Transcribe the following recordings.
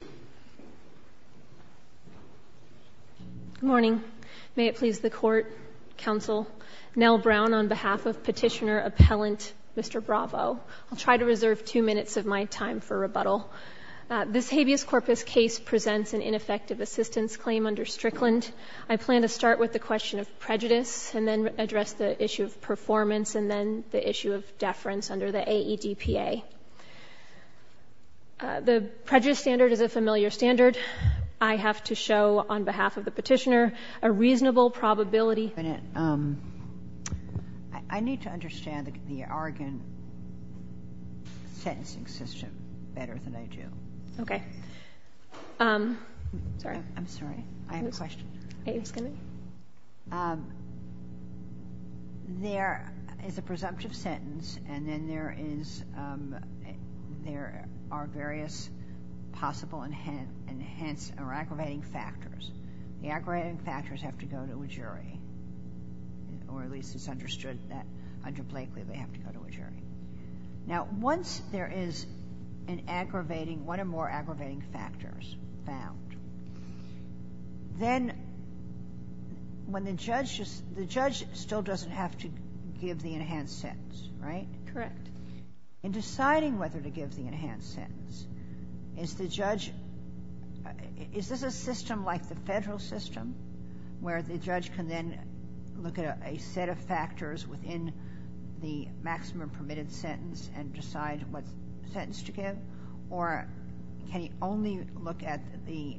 Good morning. May it please the Court, Counsel, Nell Brown on behalf of Petitioner-Appellant Mr. Bravo. I'll try to reserve two minutes of my time for rebuttal. This habeas corpus case presents an ineffective assistance claim under Strickland. I plan to start with the question of prejudice and then address the issue of performance and then the issue of the familiar standard. I have to show on behalf of the Petitioner a reasonable probability I need to understand the Argonne sentencing system better than I do. Okay. Sorry. I'm sorry. I have a question. There is a presumptive sentence and then there is there are various possible enhanced or aggravating factors. The aggravating factors have to go to a jury or at least it's understood that under Blakely they have to go to a jury. Now once there is an aggravating, one or more aggravating factors found, then when the judge, the judge still doesn't have to give the enhanced sentence, right? Correct. In deciding whether to give the enhanced sentence, is the judge, is this a system like the Federal system where the judge can then look at a set of factors within the maximum permitted sentence and decide what sentence to give? Or can he only look at the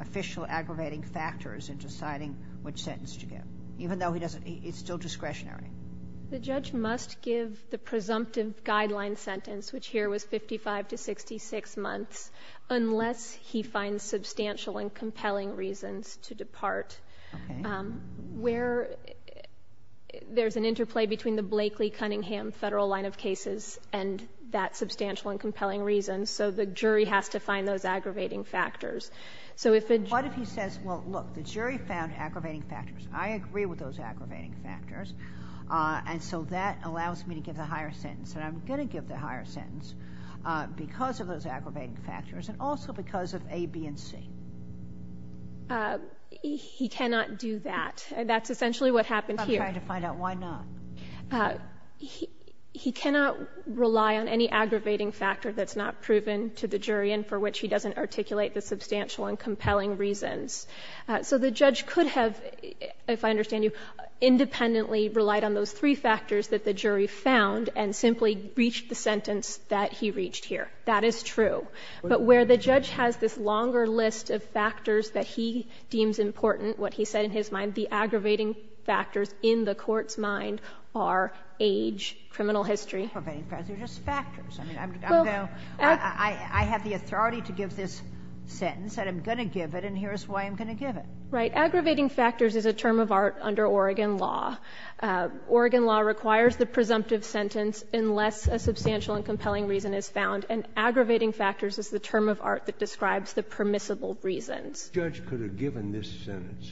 official aggravating factors in deciding which sentence to give, even though he doesn't, it's still discretionary? The judge must give the presumptive guideline sentence, which here was 55 to 66 months, unless he finds substantial and compelling reasons to depart. Okay. Where there's an interplay between the Blakely-Cunningham Federal line of cases and that substantial and compelling reason, so the jury has to find those aggravating factors. So if a jury What if he says, well, look, the jury found aggravating factors. I agree with those aggravating factors, and so that allows me to give the higher sentence. And I'm going to give the higher sentence because of those aggravating factors, and also because of A, B, and C. He cannot do that. That's essentially what happened here. I'm trying to find out why not. He cannot rely on any aggravating factor that's not proven to the jury and for which he doesn't articulate the substantial and compelling reasons. So the judge could have, if I understand you, independently relied on those three factors that the jury found and simply reached the sentence that he reached here. That is true. But where the judge has this longer list of factors that he deems important, what he said in his mind, the aggravating factors in the Court's mind are age, criminal history. Aggravating factors are just factors. I mean, I'm going to go to the authority to give this sentence, and I'm going to give it, and here's why I'm going to give it. Right. Aggravating factors is a term of art under Oregon law. Oregon law requires the presumptive sentence unless a substantial and compelling reason is found, and aggravating factors is the term of art that describes the permissible reasons. The judge could have given this sentence,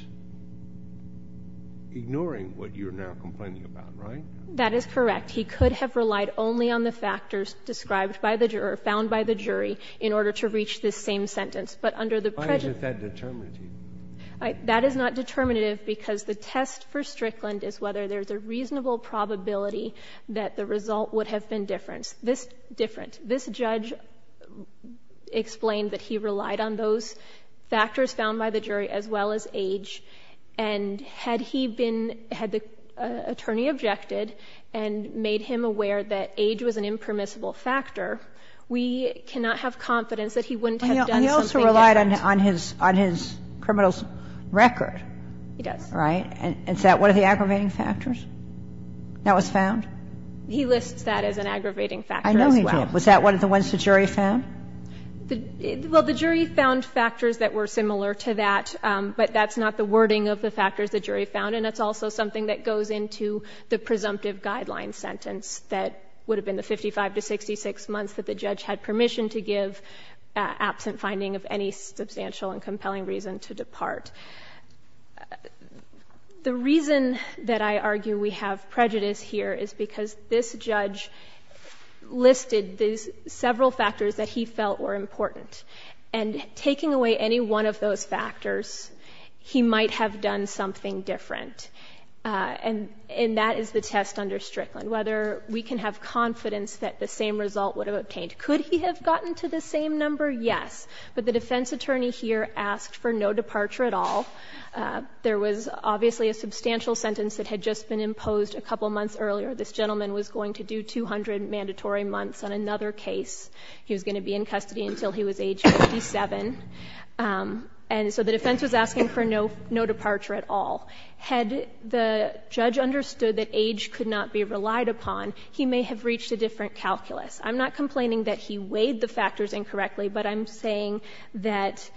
ignoring what you're now complaining about, right? That is correct. He could have relied only on the factors described by the juror, found by the jury, in order to reach this same sentence. But under the prejudice Why is it that determinative? That is not determinative because the test for Strickland is whether there's a reasonable probability that the result would have been different. This judge explained that he relied on those factors found by the jury as well as age, and had he been had the attorney objected and made him aware that age was an impermissible factor, we cannot have confidence that he wouldn't have done something different. But he relied on his criminal's record. He does. Right? And is that one of the aggravating factors that was found? He lists that as an aggravating factor as well. I know he did. Was that one of the ones the jury found? Well, the jury found factors that were similar to that, but that's not the wording of the factors the jury found, and it's also something that goes into the presumptive guideline sentence that would have been the 55 to 66 months that the judge had permission to give absent finding of any substantial and compelling reason to depart. The reason that I argue we have prejudice here is because this judge listed several factors that he felt were important, and taking away any one of those factors, he might have done something different. And that is the test under Strickland, whether we can have confidence that the same result would have obtained. Could he have gotten to the same number? Yes. But the defense attorney here asked for no departure at all. There was obviously a substantial sentence that had just been imposed a couple months earlier. This gentleman was going to do 200 mandatory months on another case. He was going to be in custody until he was age 57. And so the defense was asking for no departure at all. Had the judge understood that age could not be relied upon, he may have reached a different calculus. I'm not complaining that he weighed the factors incorrectly, but I'm saying that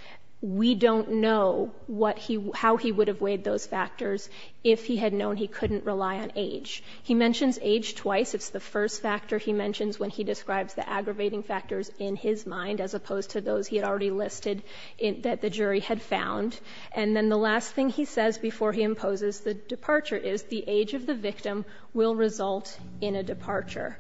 we don't know what he — how he would have weighed those factors if he had known he couldn't rely on age. He mentions age twice. It's the first factor he mentions when he describes the aggravating factors in his mind, as opposed to those he had already listed that the jury had found. And then the last thing he says before he imposes the departure is, the age of the victim will result in a departure.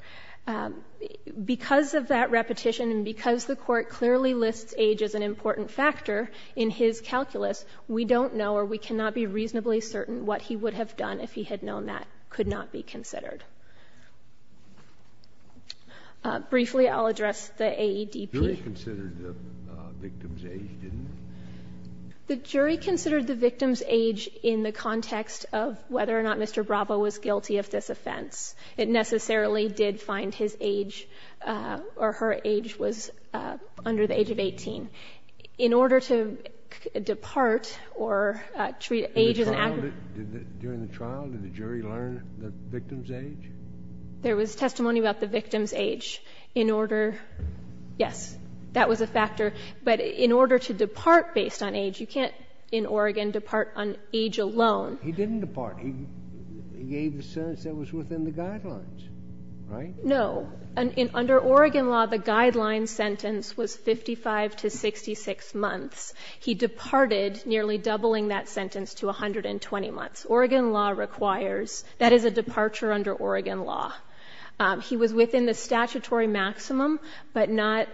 Because of that repetition and because the Court clearly lists age as an important factor in his calculus, we don't know or we cannot be reasonably certain what he would have done if he had known that could not be considered. Briefly, I'll address the AEDP. The jury considered the victim's age in the context of whether or not Mr. Bravo was guilty of this offense. It necessarily did find his age or her age was under the age of 18. In order to depart or treat age as an aggravating factor — During the trial, did the jury learn the victim's age? There was testimony about the victim's age in order — yes, that was a factor. But in order to depart based on age, you can't in Oregon depart on age alone. He didn't depart. He gave the sentence that was within the guidelines, right? No. Under Oregon law, the guideline sentence was 55 to 66 months. He departed nearly doubling that sentence to 120 months. Oregon law requires — that is a departure under Oregon law. He was within the statutory maximum, but not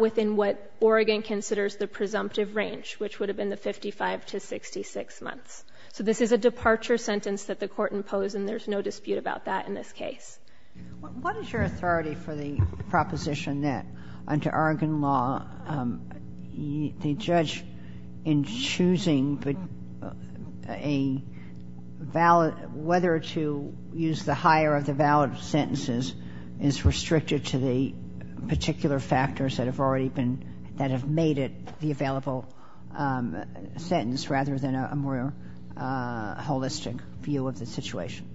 within what Oregon considers the presumptive range, which would have been the 55 to 66 months. So this is a departure sentence that the Court imposed, and there's no dispute about that in this case. What is your authority for the proposition that under Oregon law, the judge in choosing a valid — whether to use the higher of the valid sentences is restricted to the particular holistic view of the situation?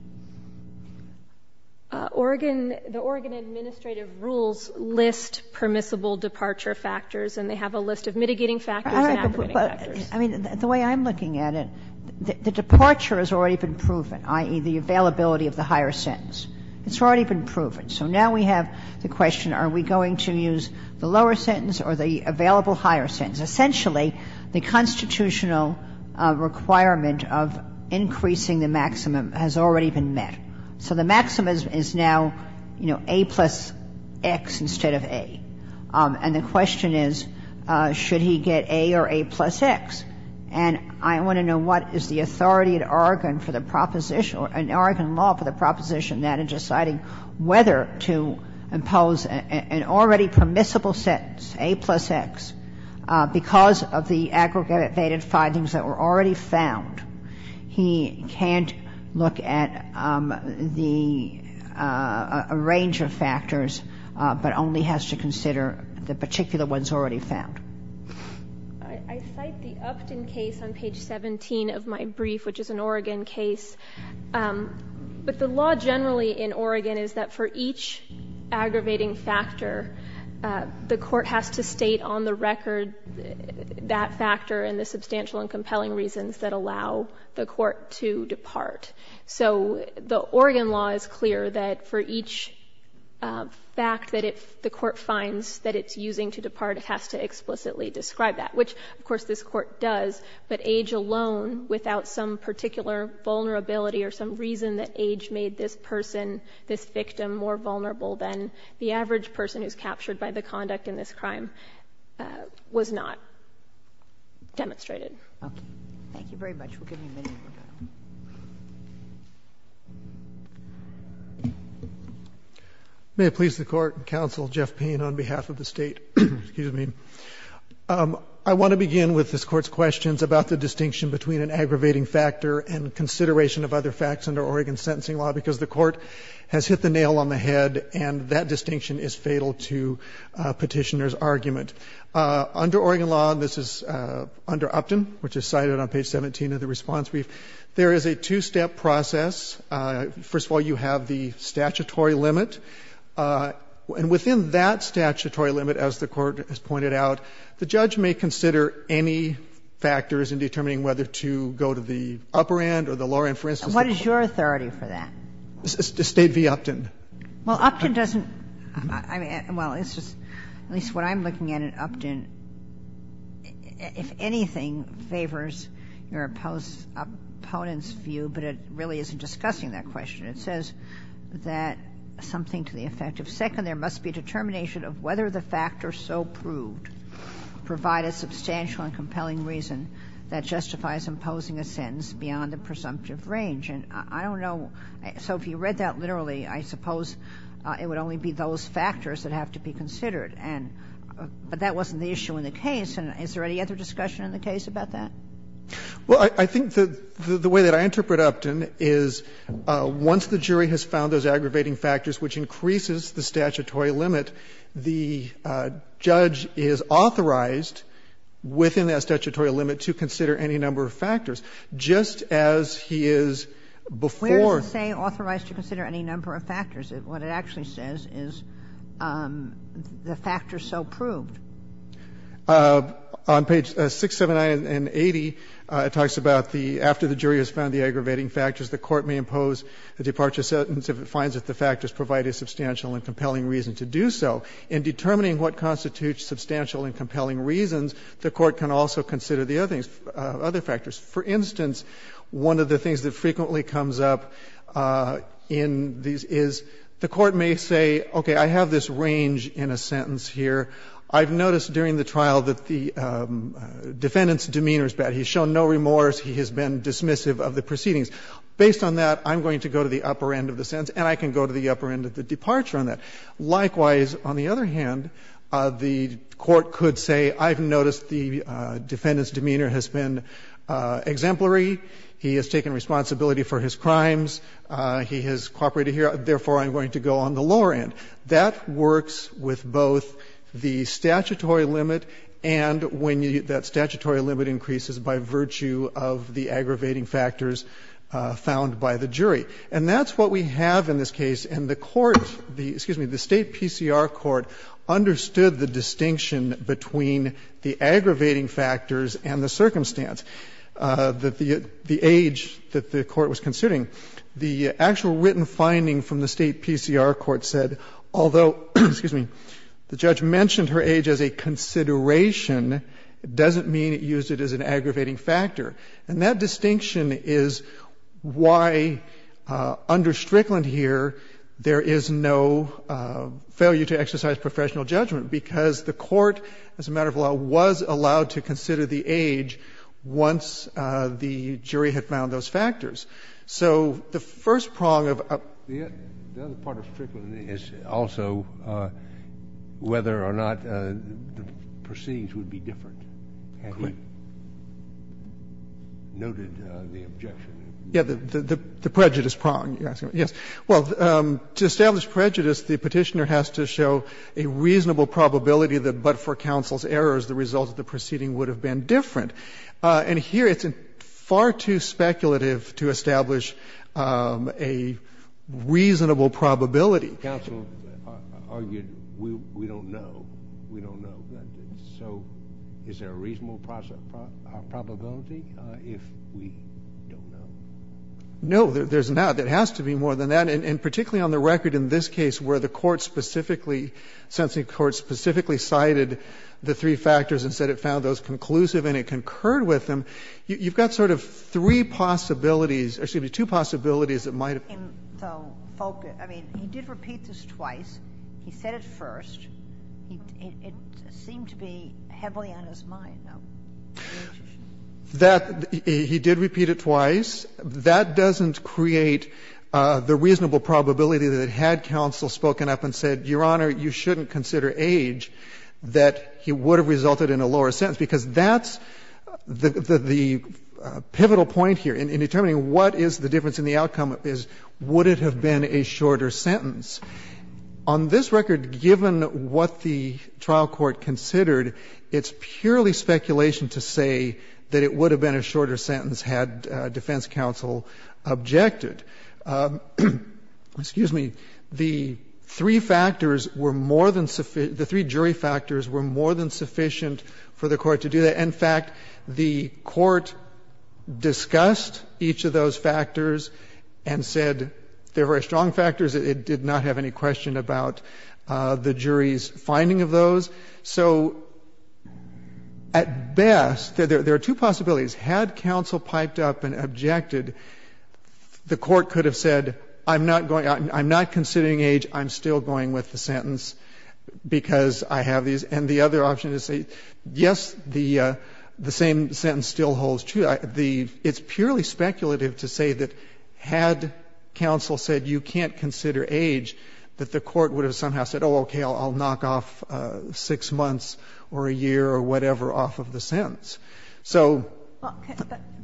Oregon — the Oregon administrative rules list permissible departure factors, and they have a list of mitigating factors and aggravating factors. All right, but — I mean, the way I'm looking at it, the departure has already been proven, i.e., the availability of the higher sentence. It's already been proven. So now we have the question, are we going to use the lower sentence or the available higher sentence? Essentially, the constitutional requirement of increasing the maximum has already been met. So the maximum is now, you know, A plus X instead of A. And the question is, should he get A or A plus X? And I want to know what is the authority at Oregon for the proposition — in Oregon law for the proposition that in deciding whether to impose an already permissible sentence, A plus X, because of the aggravated findings that were already found, he can't look at the — a range of factors, but only has to consider the particular ones already found? I cite the Upton case on page 17 of my brief, which is an Oregon case. But the law generally in Oregon is that for each aggravating factor, the court has to state on the record that factor and the substantial and compelling reasons that allow the court to depart. So the Oregon law is clear that for each fact that it — the court finds that it's using to depart, it has to explicitly describe that, which, of course, this court does, but age alone, without some particular vulnerability or some reason that age made this person, this victim, more vulnerable than the average person who's captured by the conduct in this crime, was not demonstrated. Okay. Thank you very much. We'll give you a minute to go. May it please the Court and counsel, Jeff Payne on behalf of the State. Excuse me. I want to begin with this Court's questions about the distinction between an aggravating factor and consideration of other facts under Oregon sentencing law, because the Court has hit the nail on the head, and that distinction is fatal to Petitioner's argument. Under Oregon law, and this is under Upton, which is cited on page 17 of the response brief, there is a two-step process. First of all, you have the statutory limit. And within that statutory limit, as the Court has pointed out, the judge may consider any factors in determining whether to go to the upper end or the lower end. For instance, the court's view. And what is your authority for that? State v. Upton. Well, Upton doesn't – I mean, well, it's just, at least what I'm looking at in Upton, if anything, favors your opponent's view, but it really isn't discussing that question. It says that something to the effect of second, there must be a determination of whether the factors so proved provide a substantial and compelling reason that justifies imposing a sentence beyond the presumptive range. And I don't know – so if you read that literally, I suppose it would only be those factors that have to be considered. And – but that wasn't the issue in the case. And is there any other discussion in the case about that? Well, I think the way that I interpret Upton is once the jury has found those aggravating factors, which increases the statutory limit, the judge is authorized within that statutory limit to consider any number of factors, just as he is before. Where does it say authorized to consider any number of factors? What it actually says is the factors so proved. On page 679 and 80, it talks about the – after the jury has found the aggravating factors, the Court may impose a departure sentence if it finds that the factors provide a substantial and compelling reason to do so. In determining what constitutes substantial and compelling reasons, the Court can also consider the other things, other factors. For instance, one of the things that frequently comes up in these is the Court may say, okay, I have this range in a sentence here. I've noticed during the trial that the defendant's demeanor is bad. He's shown no remorse. He has been dismissive of the proceedings. Based on that, I'm going to go to the upper end of the sentence, and I can go to the upper end of the departure on that. Likewise, on the other hand, the Court could say, I've noticed the defendant's demeanor has been exemplary. He has taken responsibility for his crimes. He has cooperated here. Therefore, I'm going to go on the lower end. That works with both the statutory limit and when that statutory limit increases by virtue of the aggravating factors found by the jury. And that's what we have in this case, and the Court, excuse me, the State PCR Court understood the distinction between the aggravating factors and the circumstance, the age that the Court was considering. The actual written finding from the State PCR Court said, although, excuse me, the judge mentioned her age as a consideration, it doesn't mean it used it as an aggravating factor. And that distinction is why under Strickland here, there is no failure to exercise professional judgment because the Court, as a matter of law, was allowed to consider the age once the jury had found those factors. So the first prong of a ---- The other part of Strickland is also whether or not the proceedings would be different had he noted the objection. Yes, the prejudice prong, yes. Well, to establish prejudice, the Petitioner has to show a reasonable probability that but for counsel's errors, the result of the proceeding would have been different. And here, it's far too speculative to establish a reasonable probability. Counsel argued we don't know. We don't know. So is there a reasonable probability if we don't know? No, there's not. There has to be more than that. And particularly on the record in this case where the Court specifically, Sensing Court specifically cited the three factors and said it found those conclusive and it concurred with them, you've got sort of three possibilities, or excuse me, two possibilities that might have been so focused. I mean, he did repeat this twice. He said it first. It didn't seem to be heavily on his mind, though. That he did repeat it twice. That doesn't create the reasonable probability that had counsel spoken up and said, Your Honor, you shouldn't consider age, that he would have resulted in a lower sentence because that's the pivotal point here in determining what is the difference in the outcome, is would it have been a shorter sentence. On this record, given what the trial court considered, it's purely speculation to say that it would have been a shorter sentence had defense counsel objected. Excuse me. The three factors were more than the three jury factors were more than sufficient for the court to do that. In fact, the court discussed each of those factors and said they're very strong factors. It did not have any question about the jury's finding of those. So at best, there are two possibilities. Had counsel piped up and objected, the court could have said, I'm not going out, I'm not considering age, I'm still going with the sentence because I have these. And the other option is to say, yes, the same sentence still holds true. It's purely speculative to say that had counsel said you can't consider age, that the court would have somehow said, oh, okay, I'll knock off 6 months or a year or whatever off of the sentence. off of the sentence. And the other option is to say, yes, the same sentence still holds true, but it's purely speculative to say that had counsel piped up and objected, the court could have said, oh, okay, I'll knock off 6 months or a year or whatever off of the sentence. And the other option is to say, yes, the same sentence still holds true, but it's purely speculative to say that had counsel piped up and objected, the court could have said, oh, okay, I'll knock off 6 months or a year or whatever off of the sentence. And the other option is to say, yes, the same sentence still holds true, but it's have said, oh, okay, I'll knock off 6 months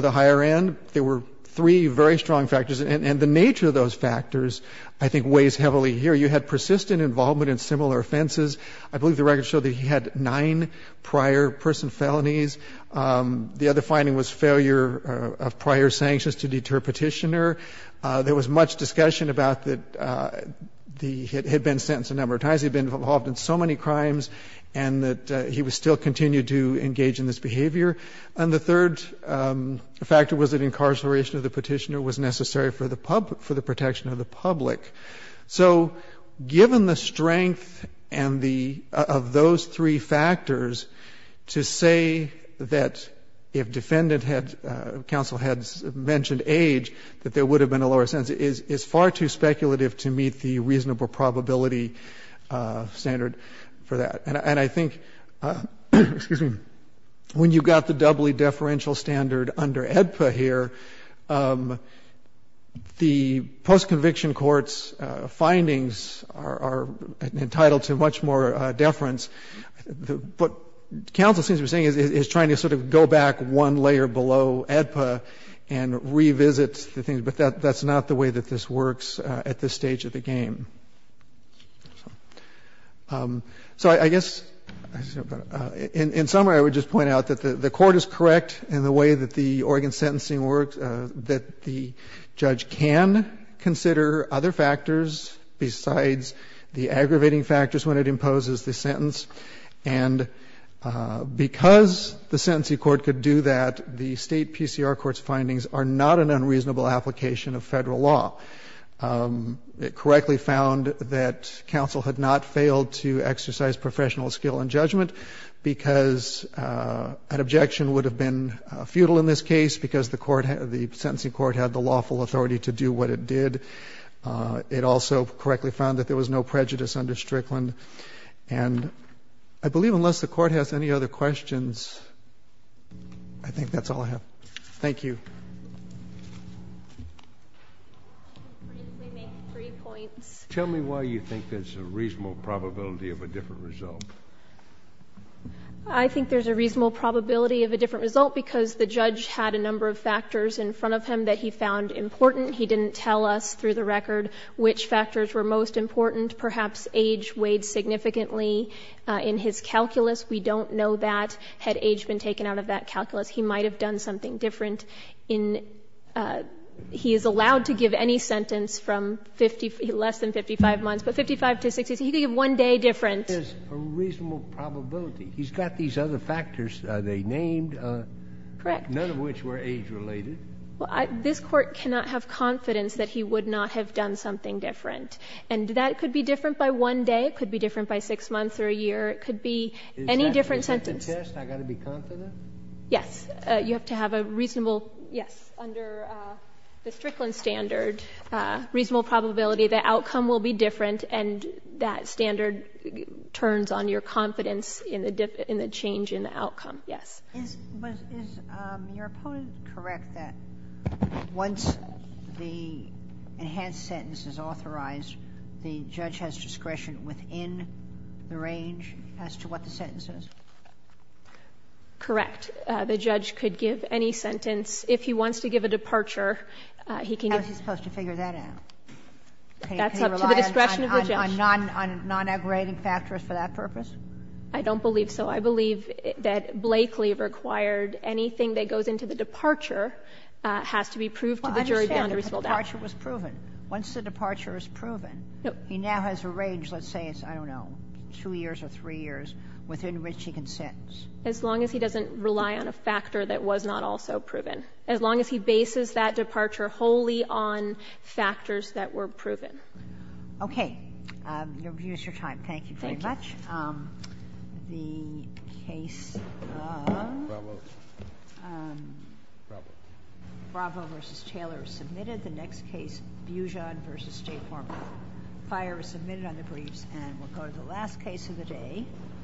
or a year or whatever off of the sentence. And the third factor was that incarceration of the Petitioner was necessary for the public, for the protection of the public. And so the sentence is far too speculative to meet the reasonable probability standard for that. And I think, excuse me, when you've got the doubly deferential standard under AEDPA here, the post-conviction court's findings are entitled to much more deference. What counsel seems to be saying is trying to sort of go back one layer below AEDPA and revisit the things, but that's not the way that this works at this stage of the game. So I guess, in summary, I would just point out that the court is correct in the way that the Oregon sentencing works, that the judge can consider other factors besides the aggravating factors when it imposes the sentence. And because the sentencing court could do that, the state PCR court's findings are not an unreasonable application of Federal law. It correctly found that counsel had not failed to exercise professional skill in judgment because an objection would have been futile in this case because the court, the sentencing court had the lawful authority to do what it did. It also correctly found that there was no prejudice under Strickland. And I believe unless the Court has any other questions, I think that's all I have. Thank you. Tell me why you think there's a reasonable probability of a different result. I think there's a reasonable probability of a different result because the judge had a number of factors in front of him that he found important. He didn't tell us through the record which factors were most important. Perhaps age weighed significantly in his calculus. We don't know that. Had age been taken out of that calculus, he might have done something different in he is allowed to give any sentence from 50, less than 55 months, but 55 to 60, he could give one day different. There's a reasonable probability. He's got these other factors. Are they named? Correct. None of which were age-related. Well, this Court cannot have confidence that he would not have done something different. And that could be different by one day. It could be different by six months or a year. It could be any different sentence. Is that the test? I've got to be confident? Yes. You have to have a reasonable, yes, under the Strickland standard, reasonable probability the outcome will be different, and that standard turns on your confidence in the change in the outcome. Yes. Is your opponent correct that once the enhanced sentence is authorized, the judge has discretion within the range as to what the sentence is? Correct. The judge could give any sentence. If he wants to give a departure, he can give it. How is he supposed to figure that out? That's up to the discretion of the judge. Can he rely on non-aggregating factors for that purpose? I don't believe so. I believe that Blakely required anything that goes into the departure has to be proved to the jury beyond a reasonable doubt. Well, I understand. The departure was proven. Once the departure is proven, he now has a range, let's say it's, I don't know, two years or three years, within which he can sentence. As long as he doesn't rely on a factor that was not also proven. As long as he bases that departure wholly on factors that were proven. Okay. You've used your time. Thank you very much. Thank you. The case of Bravo v. Taylor is submitted. The next case, Bujon v. J. Farmer. Fire is submitted on the briefs. And we'll go to the last case of the day.